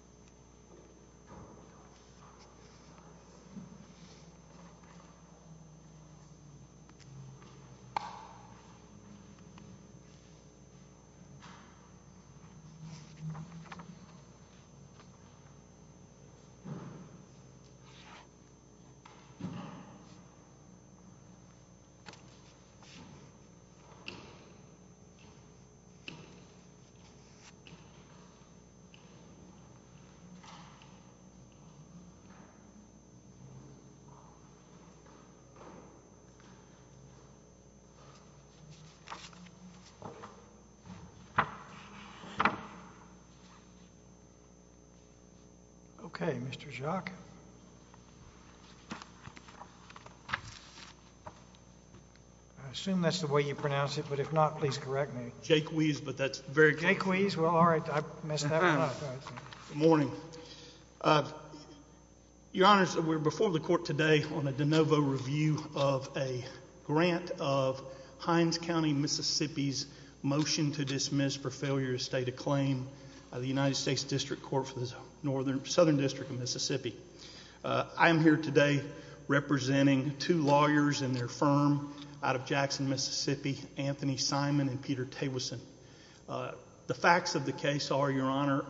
Teeuwissen v. Hinds County, MS Okay, Mr. Jacques. I assume that's the way you pronounce it, but if not, please correct me. Mr. Jacques, we're before the Court today on a de novo review of a grant of Hinds County, MISSISSIPPI's motion to dismiss for failure to state a claim by the United States District Court for the Southern District of Mississippi. I am here today representing two lawyers and their firm out of Jackson, Mississippi, Anthony Simon and Peter Teeuwissen. The facts of the case are, Your Honor,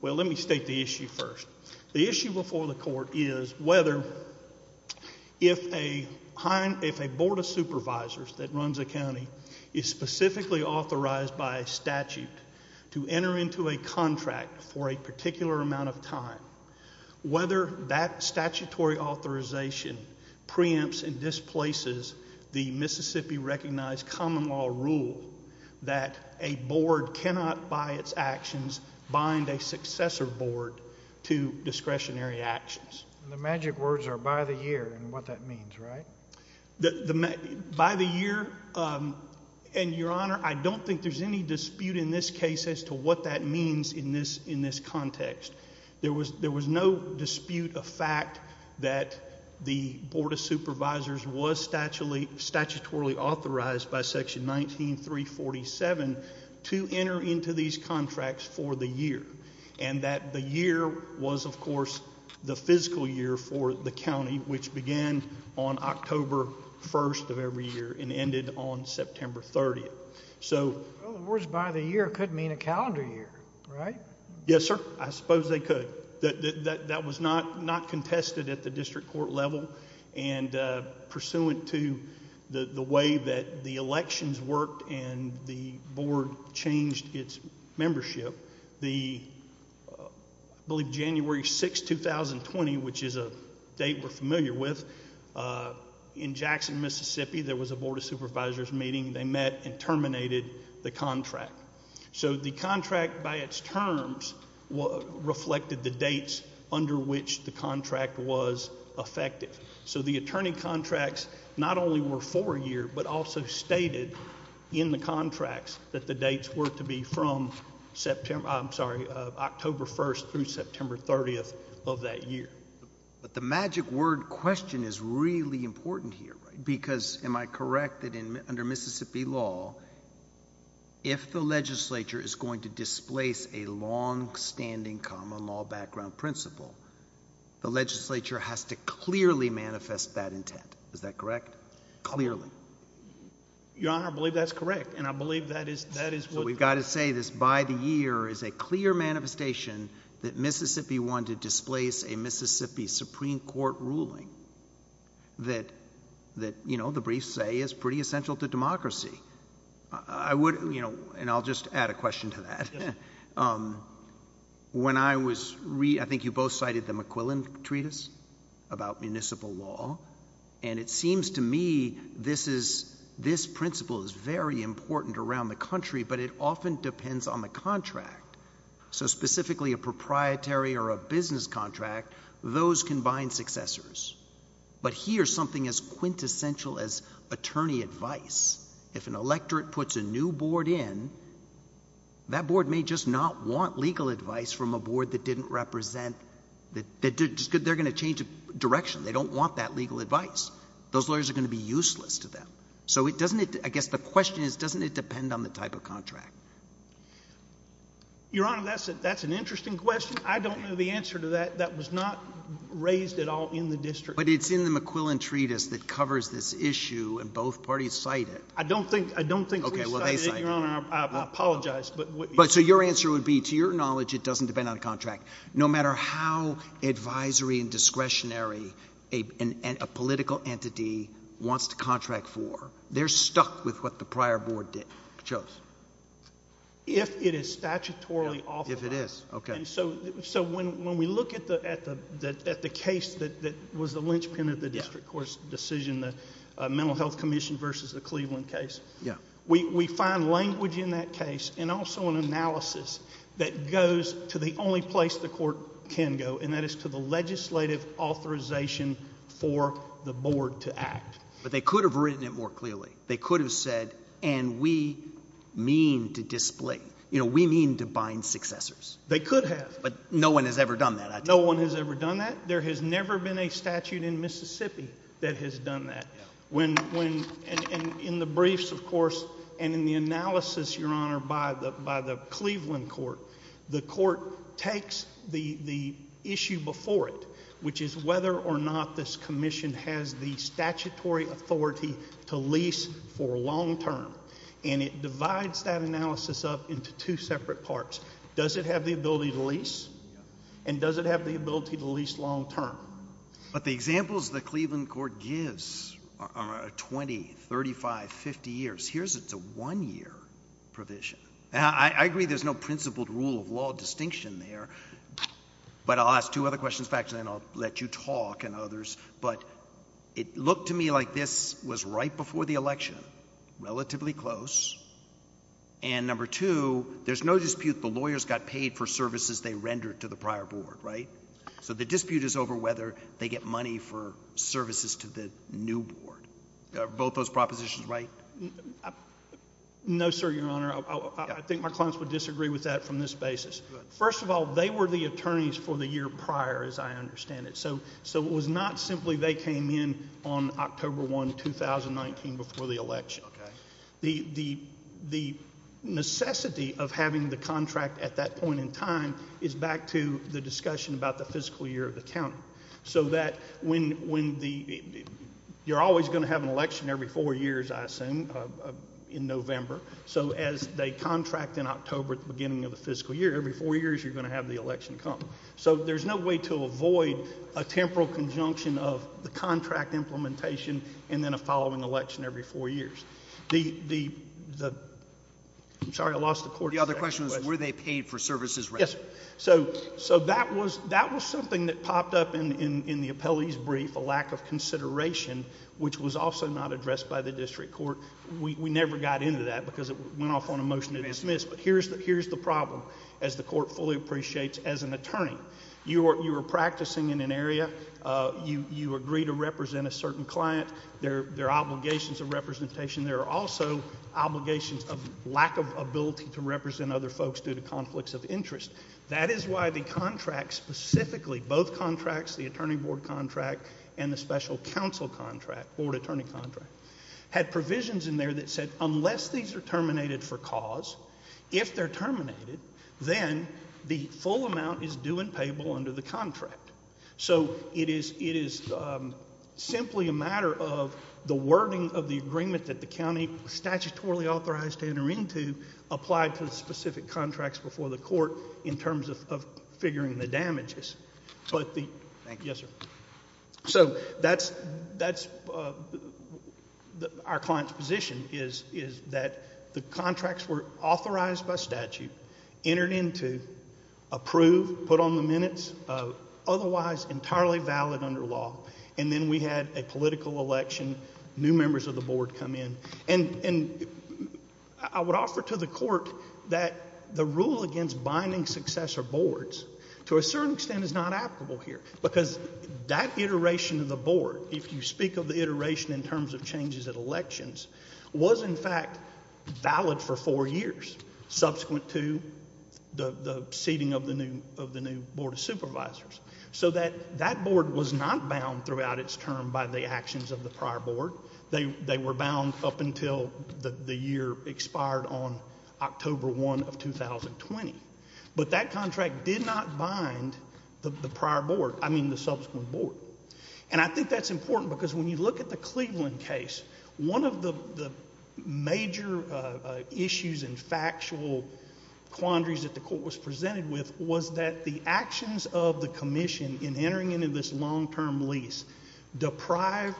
well, let me state the issue first. The issue before the Court is whether if a Board of Supervisors that runs a county is specifically authorized by statute to enter into a contract for a particular amount of time, whether that statutory authorization preempts and displaces the Mississippi-recognized common law rule that a Board cannot, by its actions, bind a successor Board to discretionary actions. And the magic words are, by the year, and what that means, right? By the year, and, Your Honor, I don't think there's any dispute in this case as to what that means in this context. There was no dispute of fact that the Board of Supervisors was statutorily authorized by Section 19347 to enter into these contracts for the year, and that the year was, of course, the physical year for the county, which began on October 1st of every year and ended on September 30th. Well, the words, by the year, could mean a calendar year, right? Yes, sir. I suppose they could. That was not contested at the district court level, and pursuant to the way that the elections worked and the Board changed its membership, I believe January 6, 2020, which is a date we're familiar with, in Jackson, Mississippi, there was a Supervisors' meeting. They met and terminated the contract. So the contract, by its terms, reflected the dates under which the contract was effective. So the attorney contracts not only were for a year, but also stated in the contracts that the dates were to be from September I'm sorry, October 1st through September 30th of that year. But the magic word question is really important here, right? Because, am I correct that under Mississippi law, if the legislature is going to displace a long-standing common law background principle, the legislature has to clearly manifest that intent. Is that correct? Clearly. Your Honor, I believe that's correct, and I believe that is what We've got to say this, by the year is a clear manifestation that Mississippi wanted to displace a Mississippi Supreme Court ruling that, you know, the briefs say is pretty essential to democracy. I would, you know, and I'll just add a question to that. When I was, I think you both cited the McQuillan Treatise about municipal law, and it seems to me this is, this principle is very important around the country, but it often depends on the contract. So specifically a proprietary or a business contract, those combined successors. But here's something as quintessential as attorney advice. If an electorate puts a new board in, that board may just not want legal advice from a board that didn't represent, they're going to change direction. They don't want that legal advice. Those lawyers are going to be useless to them. So it doesn't, I guess the question is, doesn't it depend on the type of contract? Your Honor, that's an interesting question. I don't know the answer to that. That was not raised at all in the district. But it's in the McQuillan Treatise that covers this issue, and both parties cite it. I don't think, I don't think we cited it, Your Honor. I apologize. But so your answer would be, to your knowledge, it doesn't depend on the contract. No matter how advisory and discretionary a political entity wants to contract for, they're stuck with what the prior board chose. If it is statutorily author. If it is, okay. So when we look at the case that was the linchpin of the district court's decision, the Mental Health Commission versus the Cleveland case, we find language in that case and also an analysis that goes to the only place the court can go, and that is to the legislative authorization for the board to act. But they could have written it more clearly. They could have said, and we mean to display, you know, we mean to bind successors. They could have. But no one has ever done that. No one has ever done that. There has never been a statute in Mississippi that has done that. When, in the briefs, of course, and in the analysis, Your Honor, by the has the statutory authority to lease for long term. And it divides that analysis up into two separate parts. Does it have the ability to lease? And does it have the ability to lease long term? But the examples the Cleveland court gives are 20, 35, 50 years. Here's it's a one-year provision. Now, I agree there's no principled rule of law distinction there, but I'll ask two other questions, and then I'll let you talk and others. But it looked to me like this was right before the election, relatively close. And number two, there's no dispute the lawyers got paid for services they rendered to the prior board, right? So the dispute is over whether they get money for services to the new board. Are both those propositions right? No, sir, Your Honor. I think my clients would disagree with that from this basis. First of all, they were the attorneys for the year prior, as I understand it. So it was not simply they came in on October 1, 2019, before the election. The necessity of having the contract at that point in time is back to the discussion about the fiscal year of the county. So that you're always going to have an election every four years, I assume, in November. So as they have the election come. So there's no way to avoid a temporal conjunction of the contract implementation and then a following election every four years. I'm sorry, I lost the court. The other question was, were they paid for services? Yes. So that was something that popped up in the appellee's brief, a lack of consideration, which was also not addressed by the district court. We never got into that because it went off on a motion to dismiss. But here's the problem as the court fully appreciates as an attorney. You are practicing in an area. You agree to represent a certain client. There are obligations of representation. There are also obligations of lack of ability to represent other folks due to conflicts of interest. That is why the contract, specifically both contracts, the attorney board contract and the special counsel contract, board attorney contract, had provisions in there that said unless these are terminated for cause, if they're terminated, then the full amount is due and payable under the contract. So it is simply a matter of the wording of the agreement that the county statutorily authorized to enter into applied to the specific contracts before the court in terms of figuring the damages. Thank you. Yes, sir. So that's our client's position is that the contracts were authorized by statute, entered into, approved, put on the minutes, otherwise entirely valid under law. And then we had a political election, new members of the board come in. And I would offer to the because that iteration of the board, if you speak of the iteration in terms of changes at elections, was in fact valid for four years subsequent to the seating of the new board of supervisors. So that board was not bound throughout its term by the actions of the prior board. They were bound up until the year expired on October 1 of 2020. But that contract did not bind the prior board, I mean the subsequent board. And I think that's important because when you look at the Cleveland case, one of the major issues and factual quandaries that the court was presented with was that the actions of the commission in entering into this long-term lease deprived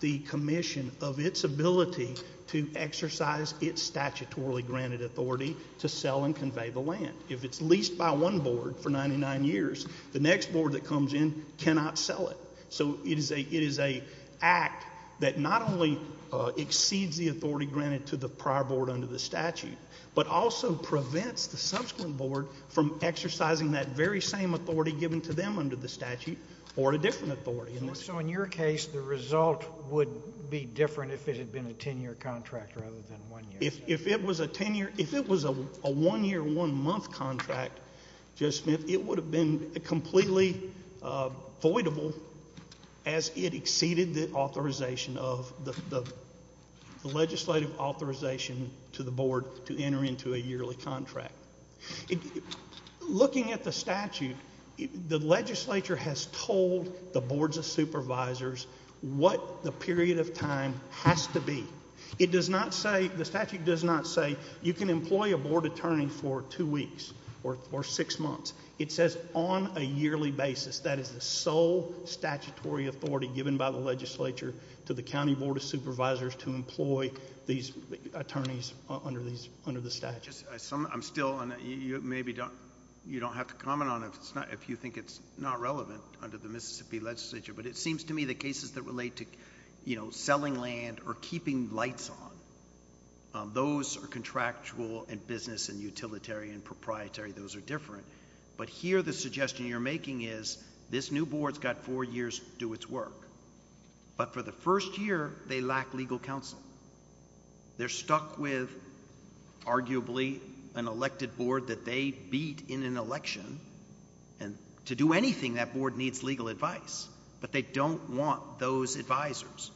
the commission of its ability to exercise its statutorily granted authority to sell and convey the land. If it's leased by one board for 99 years, the next board that comes in cannot sell it. So it is a act that not only exceeds the authority granted to the prior board under the statute, but also prevents the subsequent board from exercising that very same authority given to them under the statute or a different authority. So in your case, the result would be different if it had been a 10-year contract rather than one year. If it was a 10-year, if it was a one-year, one-month contract, Judge Smith, it would have been completely voidable as it exceeded the authorization of the legislative authorization to the board to enter into a yearly contract. Looking at the statute, the legislature has told the boards of supervisors what the period of time has to be. It does not say, the statute does not say you can employ a board attorney for two weeks or six months. It says on a yearly basis. That is the sole statutory authority given by the legislature to the county board of supervisors to employ these attorneys under these, under the statute. I'm still, and you maybe don't, you don't have to comment on it if it's not, if you think it's not relevant under the Mississippi legislature, but it seems to me the cases that relate to, you know, selling land or keeping lights on, those are contractual and business and utilitarian and proprietary. Those are different, but here the suggestion you're making is this new board's got four years to do its work, but for the first year, they lack legal counsel. They're stuck with arguably an elected board that they beat in an election, and to do anything, that board needs legal advice, but they don't want those advisors.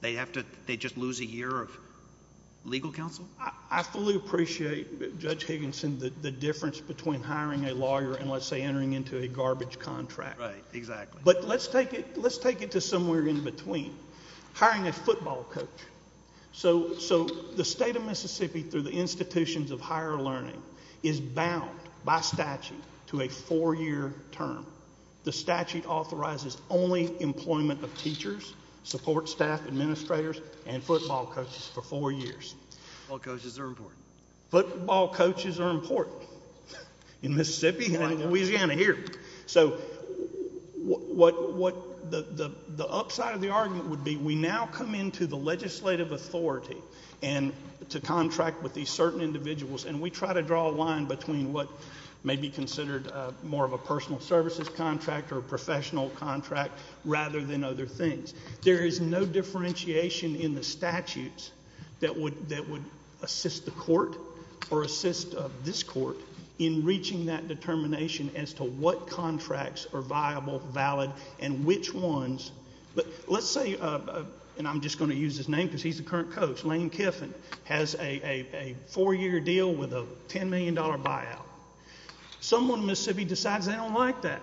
They have to, they just lose a year of legal counsel. I fully appreciate, Judge Higginson, the difference between hiring a lawyer and, let's say, entering into a garbage contract. Right, exactly. But let's take it, let's take it to somewhere in between. Hiring a football coach. So, so the state of Mississippi, through the the statute, authorizes only employment of teachers, support staff, administrators, and football coaches for four years. Football coaches are important. Football coaches are important in Mississippi and Louisiana here. So what, what the, the upside of the argument would be, we now come into the legislative authority and to contract with these certain individuals, and we try to draw a line between what may be considered more of a personal services contract or professional contract rather than other things. There is no differentiation in the statutes that would, that would assist the court or assist this court in reaching that determination as to what contracts are viable, valid, and which ones, but let's say, and I'm just going to use his name because he's the current coach, Lane Kiffin, has a four-year deal with a $10 million buyout. Someone in Mississippi decides they don't like that.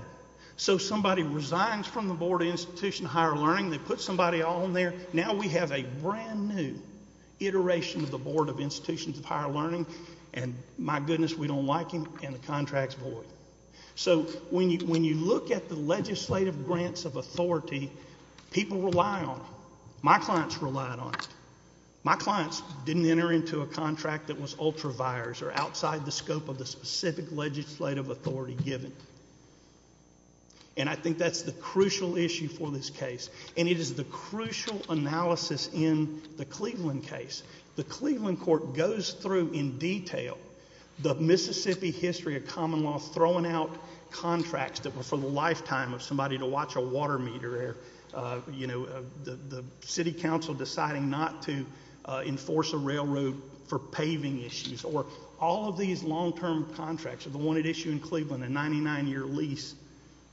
So somebody resigns from the Board of Institution of Higher Learning. They put somebody on there. Now we have a brand new iteration of the Board of Institutions of Higher Learning, and my goodness, we don't like him, and the contract's void. So when you, when you look at the legislative grants of authority, people rely on them. My clients relied on it. My clients didn't enter into a contract that was ultra vires or outside the scope of the specific legislative authority given, and I think that's the crucial issue for this case, and it is the crucial analysis in the Cleveland case. The Cleveland court goes through in detail the Mississippi history of common law, throwing out contracts that were for the lifetime of somebody to watch a water meter or, you know, the city council deciding not to enforce a railroad for paving issues, or all of these long-term contracts are the one at issue in Cleveland, a 99-year lease,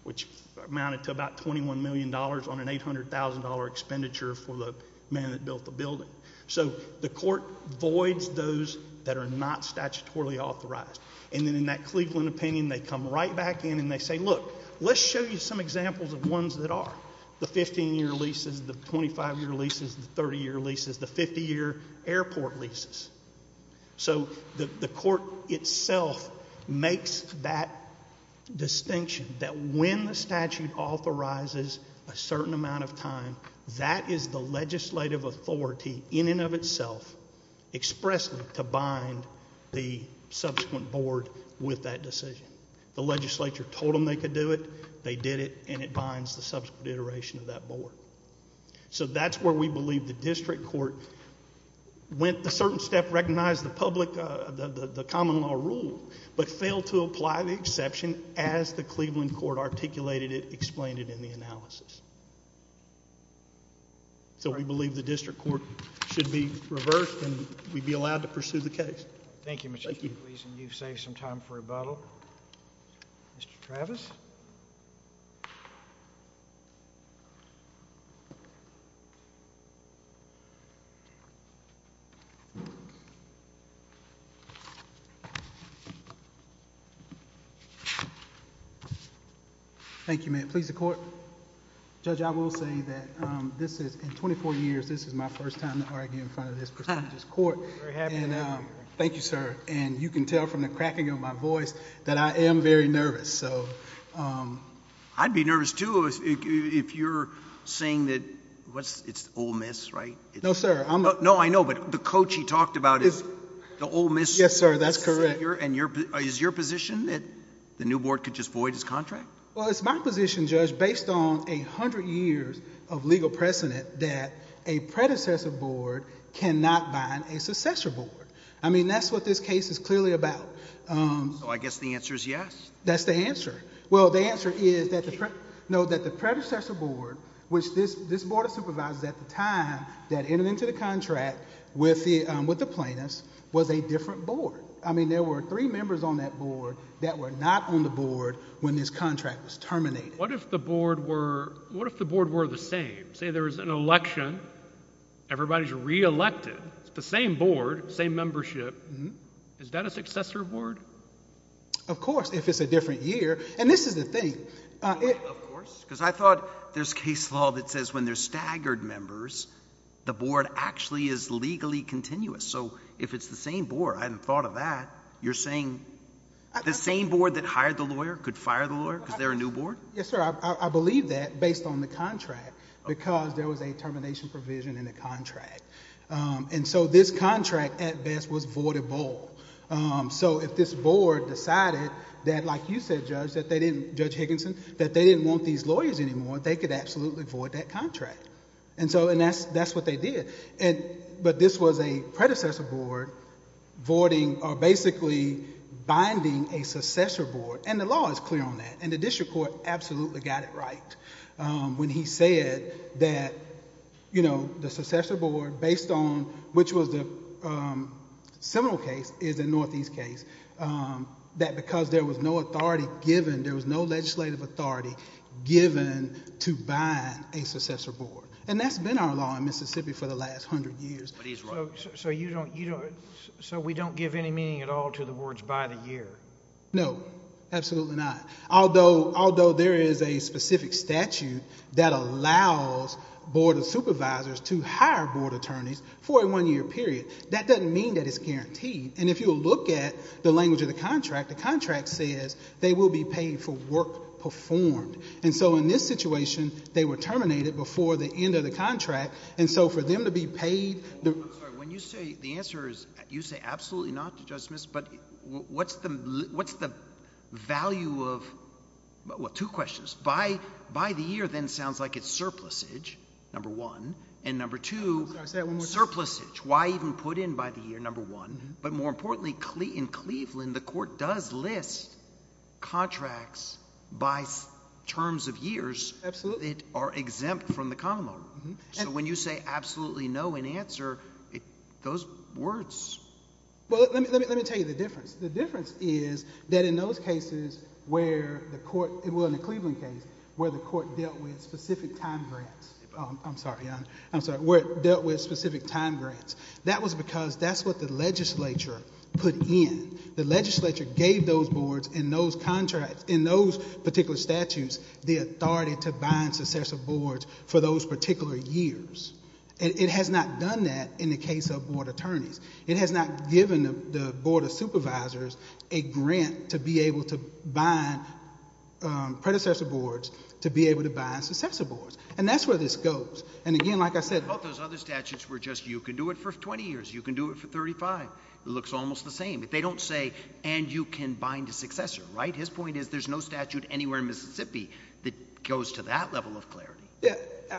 which amounted to about $21 million on an $800,000 expenditure for the man that built the building. So the court voids those that are not statutorily authorized, and then in that Cleveland opinion, they come right back in and they say, look, let's show you some examples of ones that are. The 15-year leases, the 25-year leases, the 30-year leases, the 50-year airport leases. So the court itself makes that distinction, that when the statute authorizes a certain amount of time, that is the legislative authority in and of itself expressly to bind the subsequent board with that decision. The legislature told them they could do it, they did it, and it binds the subsequent iteration of that board. So that's where we believe the district court went the certain step, recognized the public, the common law rule, but failed to apply the exception as the Cleveland court articulated it, explained it in the analysis. So we believe the district court should be reversed and we'd be allowed to pursue the case. Thank you, Mr. Cooley, and you've saved some time for rebuttal. Mr. Travis. Thank you, ma'am. Please, the court. Judge, I will say that this is, in 24 years, this is my first time to argue in front of this court. Thank you, sir. And you can tell from the cracking of my voice that I am very nervous. I'd be nervous too if you're saying that it's Ole Miss, right? No, sir. No, I know, but the coach he talked about is the Ole Miss. Yes, sir, that's correct. And is your position that the new board could just void his contract? Well, it's my position, based on 100 years of legal precedent, that a predecessor board cannot bind a successor board. I mean, that's what this case is clearly about. So I guess the answer is yes. That's the answer. Well, the answer is that the predecessor board, which this board of supervisors at the time that entered into the contract with the plaintiffs, was a different board. I mean, there were three members on that board that were not on the board when this contract was terminated. What if the board were the same? Say there was an election, everybody's reelected, it's the same board, same membership. Is that a successor board? Of course, if it's a different year. And this is the thing. Of course, because I thought there's case law that says when there's staggered members, the board actually is legally continuous. So if it's the same board, I hadn't thought of that. You're saying the same board that hired the lawyer could fire the lawyer because they're new board? Yes, sir. I believe that based on the contract, because there was a termination provision in the contract. And so this contract, at best, was voidable. So if this board decided that, like you said, Judge, that they didn't, Judge Higginson, that they didn't want these lawyers anymore, they could absolutely void that contract. And so, and that's what they did. And, but this was a predecessor board voiding, or basically binding a successor board. And the district court absolutely got it right when he said that, you know, the successor board, based on which was the Seminole case is a Northeast case, that because there was no authority given, there was no legislative authority given to buy a successor board. And that's been our law in Mississippi for the last hundred years. But he's right. So you don't, you don't, so we don't give any meaning at all to the words by the year? No, absolutely not. Although, although there is a specific statute that allows board of supervisors to hire board attorneys for a one-year period, that doesn't mean that it's guaranteed. And if you look at the language of the contract, the contract says they will be paid for work performed. And so in this situation, they were terminated before the end of the contract. And so for them to be paid... I'm sorry, when you say, the answer is, you say absolutely not to Judge Smith, but what's the, what's the value of, well, two questions. By, by the year, then sounds like it's surplusage, number one, and number two, surplusage. Why even put in by the year, number one, but more importantly, in Cleveland, the court does list contracts by terms of years that are exempt from the common law. So when you say absolutely no in answer, those words... Well, let me, let me, let me tell you the difference. The difference is that in those cases where the court, well, in the Cleveland case, where the court dealt with specific time grants, I'm sorry, I'm sorry, where it dealt with specific time grants, that was because that's what the legislature put in. The legislature gave those boards and those contracts, in those particular statutes, the authority to bind successive boards for those particular years. It has not done that in the case of board attorneys. It has not given the board of supervisors a grant to be able to bind predecessor boards to be able to bind successor boards. And that's where this goes. And again, like I said... But those other statutes were just, you can do it for 20 years, you can do it for 35. It looks almost the same. They don't say, and you can bind a successor, right? His point is, there's no statute anywhere in Mississippi that goes to that level of clarity. Yeah,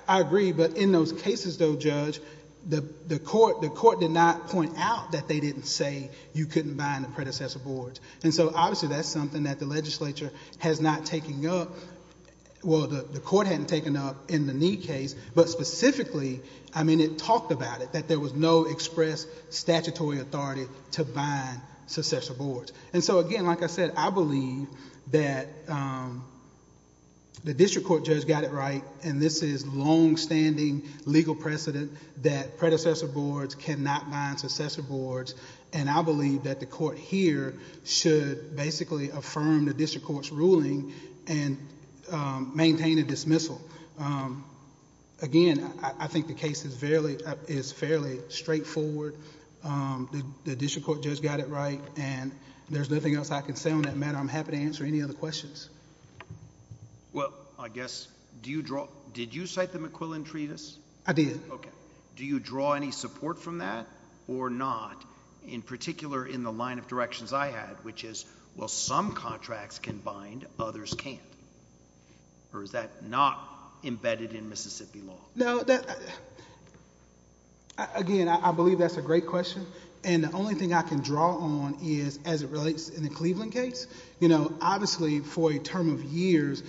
I agree. But in those cases, though, Judge, the court, the court did not point out that they didn't say you couldn't bind the predecessor boards. And so obviously that's something that the legislature has not taken up. Well, the court hadn't taken up in the Neid case, but specifically, I mean, it talked about it, that there was no express statutory authority to bind successor boards. And so again, like I said, I believe that the district court judge got it right, and this is long-standing legal precedent that predecessor boards cannot bind successor boards. And I believe that the court here should basically affirm the district court's ruling and maintain a dismissal. Again, I think the case is fairly straightforward. The district court judge got it right, and there's nothing else I can say on that matter. I'm happy to answer any other questions. Well, I guess, do you draw, did you cite the McQuillan Treatise? I did. Okay. Do you draw any support from that or not, in particular, in the line of directions I had, which is, well, some contracts can bind, others can't? Or is that not embedded in Mississippi law? No, that, again, I believe that's a great question. And the only thing I know, obviously, for a term of years,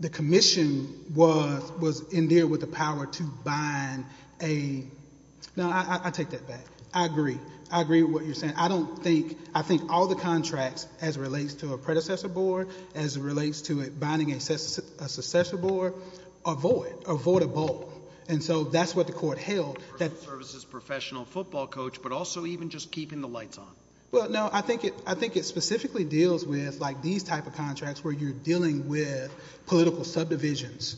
the commission was in there with the power to bind a, no, I take that back. I agree. I agree with what you're saying. I don't think, I think all the contracts, as it relates to a predecessor board, as it relates to it binding a successor board, avoid, avoid a bolt. And so that's what the court held. Personal services professional football coach, but also even just keeping the lights on. Well, no, I think it, I think it specifically deals with, like, these type of contracts where you're dealing with political subdivisions,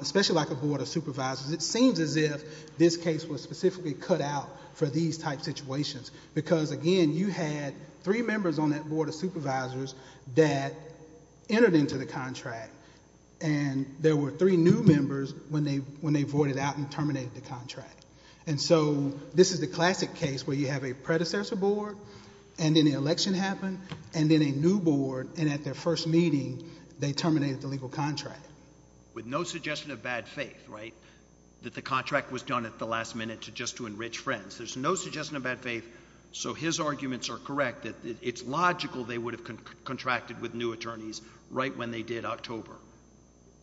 especially like a board of supervisors. It seems as if this case was specifically cut out for these type situations, because, again, you had three members on that board of supervisors that entered into the contract, and there were three new members when they, when they voided out and terminated the contract. And so this is the classic case where you have a predecessor board, and then the election happened, and then a new board, and at their first meeting, they terminated the legal contract. With no suggestion of bad faith, right, that the contract was done at the last minute to just to enrich friends. There's no suggestion of bad faith. So his arguments are correct that it's logical they would have contracted with new attorneys right when they did October.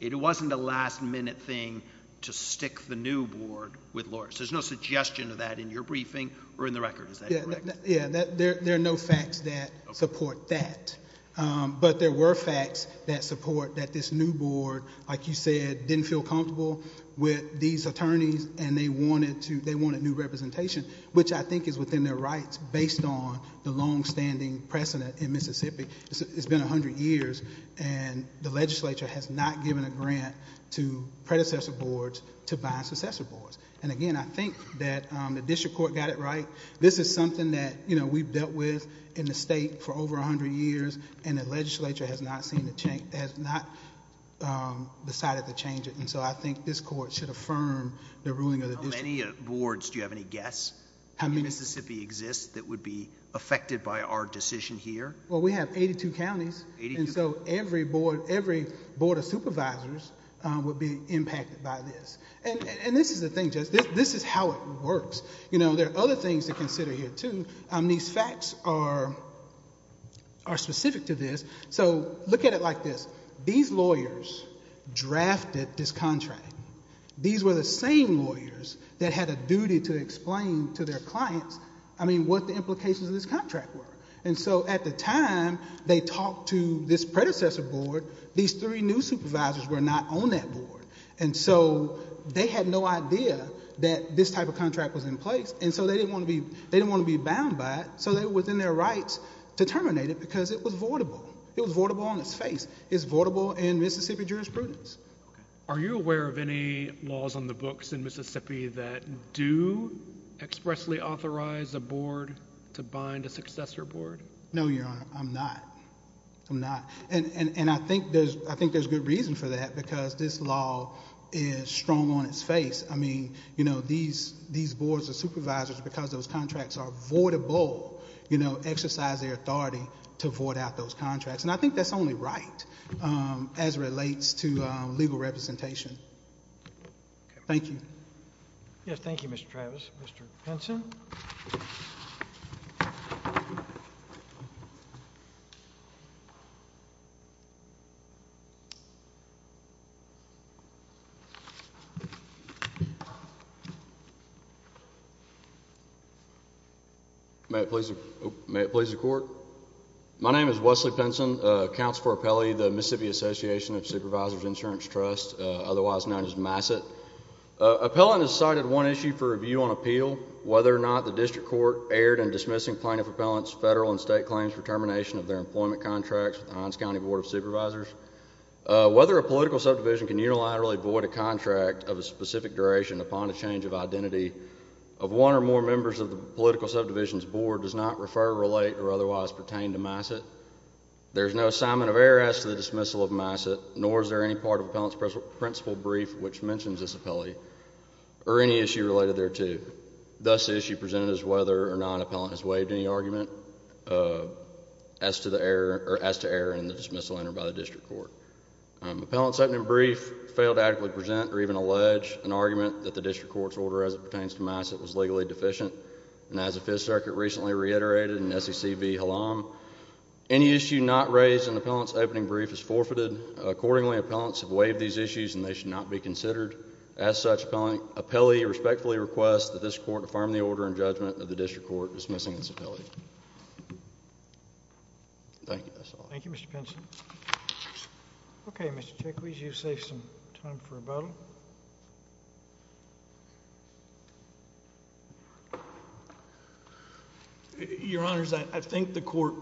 It wasn't a last minute thing to stick the new board with lawyers. There's no suggestion of that in your briefing or in the record, is that correct? Yeah, there are no facts that support that, but there were facts that support that this new board, like you said, didn't feel comfortable with these attorneys, and they wanted to, they wanted new representation, which I think is within their rights based on the long-standing precedent in Mississippi. It's been 100 years, and the legislature has not given a grant to predecessor boards to buy successor boards. And again, I think that the district court got it right. This is something that, you know, we've dealt with in the state for over 100 years, and the legislature has not seen the change, has not decided to change it, and so I think this court should affirm the ruling of the district. Any boards, do you have any guess how many Mississippi exists that would be affected by our decision here? Well, we have 82 counties, and so every board, every board of supervisors would be impacted by this. And this is the thing, Judge, this is how it works. You know, there are other things to consider here too. These facts are specific to this. So look at it like this. These lawyers drafted this contract. These were the same lawyers that had a duty to explain to their clients, I mean, what the implications of this contract were. And so at the time they talked to this predecessor board, these three new supervisors were not on that board, and so they had no idea that this type of contract was in place, and so they didn't want to be, they didn't want to be bound by it, so they were within their rights to terminate it because it was voidable. It was voidable on its face. It's voidable in Mississippi jurisprudence. Are you aware of any laws on the books in Mississippi that do expressly authorize a board to bind a successor board? No, Your Honor, I'm not. I'm not, and I think there's good reason for that because this law is strong on its face. I mean, you know, these boards of supervisors, because those contracts are voidable, you know, exercise their authority to void out those contracts, and I think that's only right as it relates to legal representation. Thank you. Yes, thank you, Mr. Travis. Mr. Henson? May it please the Court. My name is Wesley Penson, counsel for appellee of the Mississippi Association of Supervisors Insurance Trust, otherwise known as MASIT. Appellant has cited one issue for review on appeal, whether or not the district court erred in dismissing plaintiff appellant's federal and state claims for termination of their employment contracts with the Hines County Board of Supervisors, whether a political subdivision can unilaterally void a contract of a specific duration upon the change of identity of one or more members of the political subdivision's board does not refer, relate, or otherwise pertain to MASIT. There is no assignment of error as to the dismissal of MASIT, nor is there any part of appellant's principal brief which mentions this appellee or any issue related thereto. Thus, the issue presented is whether or not an appellant has waived any argument as to error in the dismissal entered by the district court. Appellant's opening brief failed to adequately present or even allege an argument that the district court's order as it pertains to MASIT was legally deficient, and as the Fifth Circuit recently reiterated in SEC v. Halam, any issue not raised in appellant's opening brief is forfeited. Accordingly, appellants have waived these issues and they should not be considered. As such, appellee respectfully requests that this court affirm the order and judgment of MASIT. Thank you, Mr. Pinson. Okay, Mr. Chikwes, you save some time for rebuttal. Your Honors, I think the court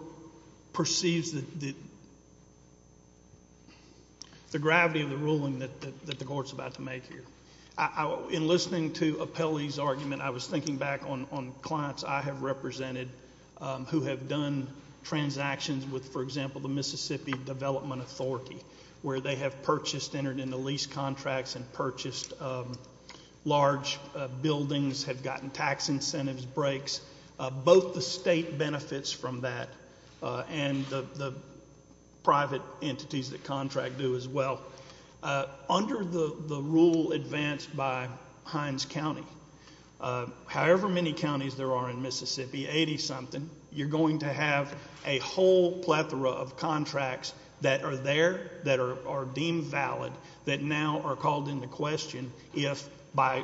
perceives the gravity of the ruling that the court's about to make here. In listening to appellee's argument, I was thinking back on clients I have represented who have done transactions with, for example, the Mississippi Development Authority, where they have purchased, entered into lease contracts and purchased large buildings, have gotten tax incentives breaks. Both the state benefits from that and the private entities that contract do as well. Under the rule advanced by Heinz County, however many counties there are in Mississippi, 80 something, you're going to have a whole plethora of contracts that are there, that are deemed valid, that now are called into question if by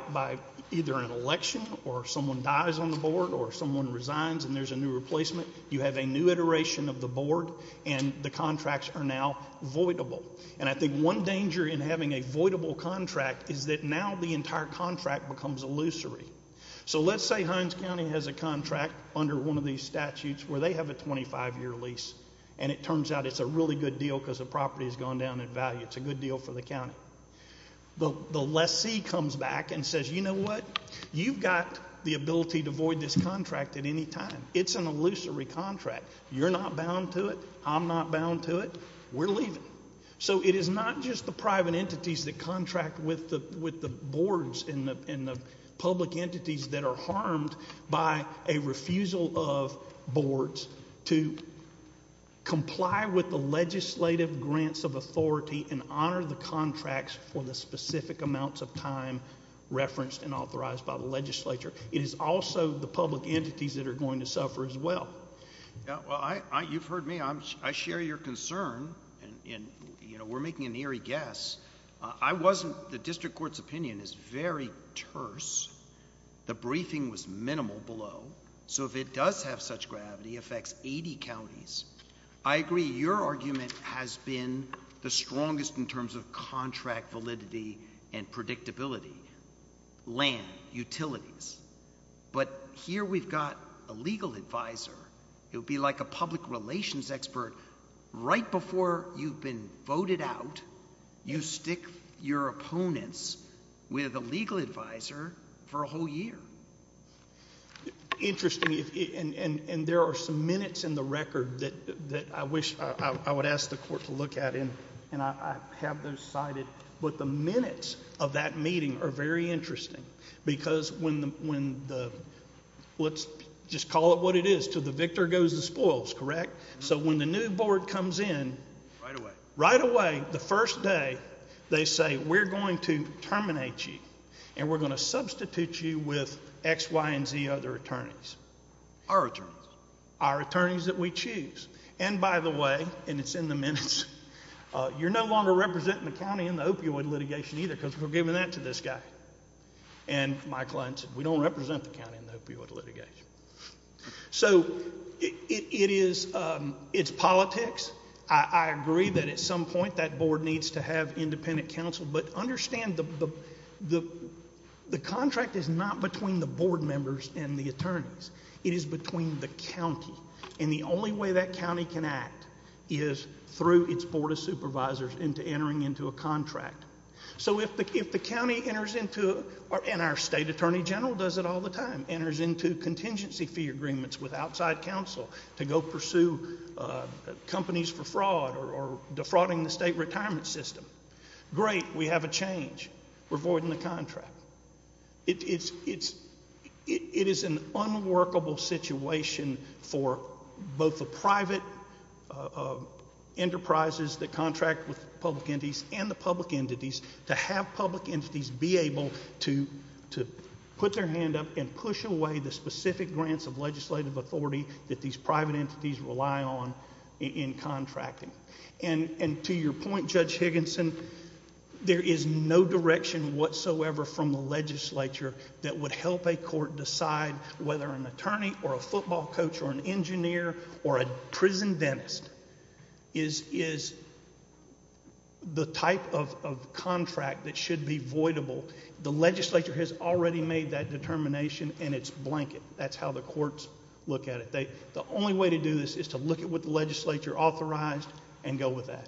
either an election or someone dies on the board or someone resigns and there's a new replacement, you have a new iteration of the board and the contracts are now voidable. And I think one danger in having a voidable contract is that now the entire contract becomes illusory. So let's say Heinz County has a contract under one of these statutes where they have a 25 year lease and it turns out it's a really good deal because the property has gone down in value. It's a good deal for the county. The lessee comes back and says, you know what? You've got the ability to void this contract at any time. It's an illusory contract. You're not bound to it. I'm not bound to it. We're leaving. So it is not just the private entities that contract with the boards and the public entities that are harmed by a refusal of boards to comply with the legislative grants of authority and honor the contracts for the specific amounts of time referenced and authorized by the legislature. It is also the public entities that are going to suffer as well. Well, you've heard me. I share your concern and we're making an eerie guess. The district court's opinion is very terse. The briefing was minimal below. So if it does have such gravity, affects 80 counties, I agree your argument has been the strongest in terms of contract validity and predictability. Land, utilities. But here we've got a legal advisor. It would be like a public relations expert. Right before you've been voted out, you stick your opponents with a legal advisor for a whole year. Interesting. And there are some minutes in the record that I wish I would ask the court to look at and I have those cited. But the minutes of that meeting are very interesting. Because when the, let's just call it what it is, till the victor goes and spoils, correct? So when the new board comes in, right away, the first day, they say we're going to terminate you and we're going to substitute you with X, Y, and Z other attorneys. Our attorneys. Our attorneys that we choose. And by the way, and it's in the minutes, you're no longer representing the county in the opioid litigation either because we're giving that to this guy. And my client said we don't represent the county in the opioid litigation. So it is, it's politics. I agree that at some point that board needs to have independent counsel. But understand the contract is not between the board members and the attorneys. It is between the county. And the only way that county can act is through its board of supervisors into entering into a contract. So if the county enters into, and our state attorney general does it all the time, enters into contingency fee agreements with outside counsel to go pursue companies for fraud or defrauding the state retirement system, great. We have a change. We're voiding the contract. It is an unworkable situation for both the private enterprises that contract with public entities and the public entities to have public entities be able to put their hand up and push away the specific grants of legislative authority that these private entities rely on in contracting. And to your point, Judge Higginson, there is no direction whatsoever from the legislature that would help a court decide whether an attorney or a football coach or an engineer or a prison dentist is the type of contract that should be voidable. The legislature has already made that determination and it's blanket. That's how the courts look at it. The only way to do this is to look at what the legislature authorized and go with that.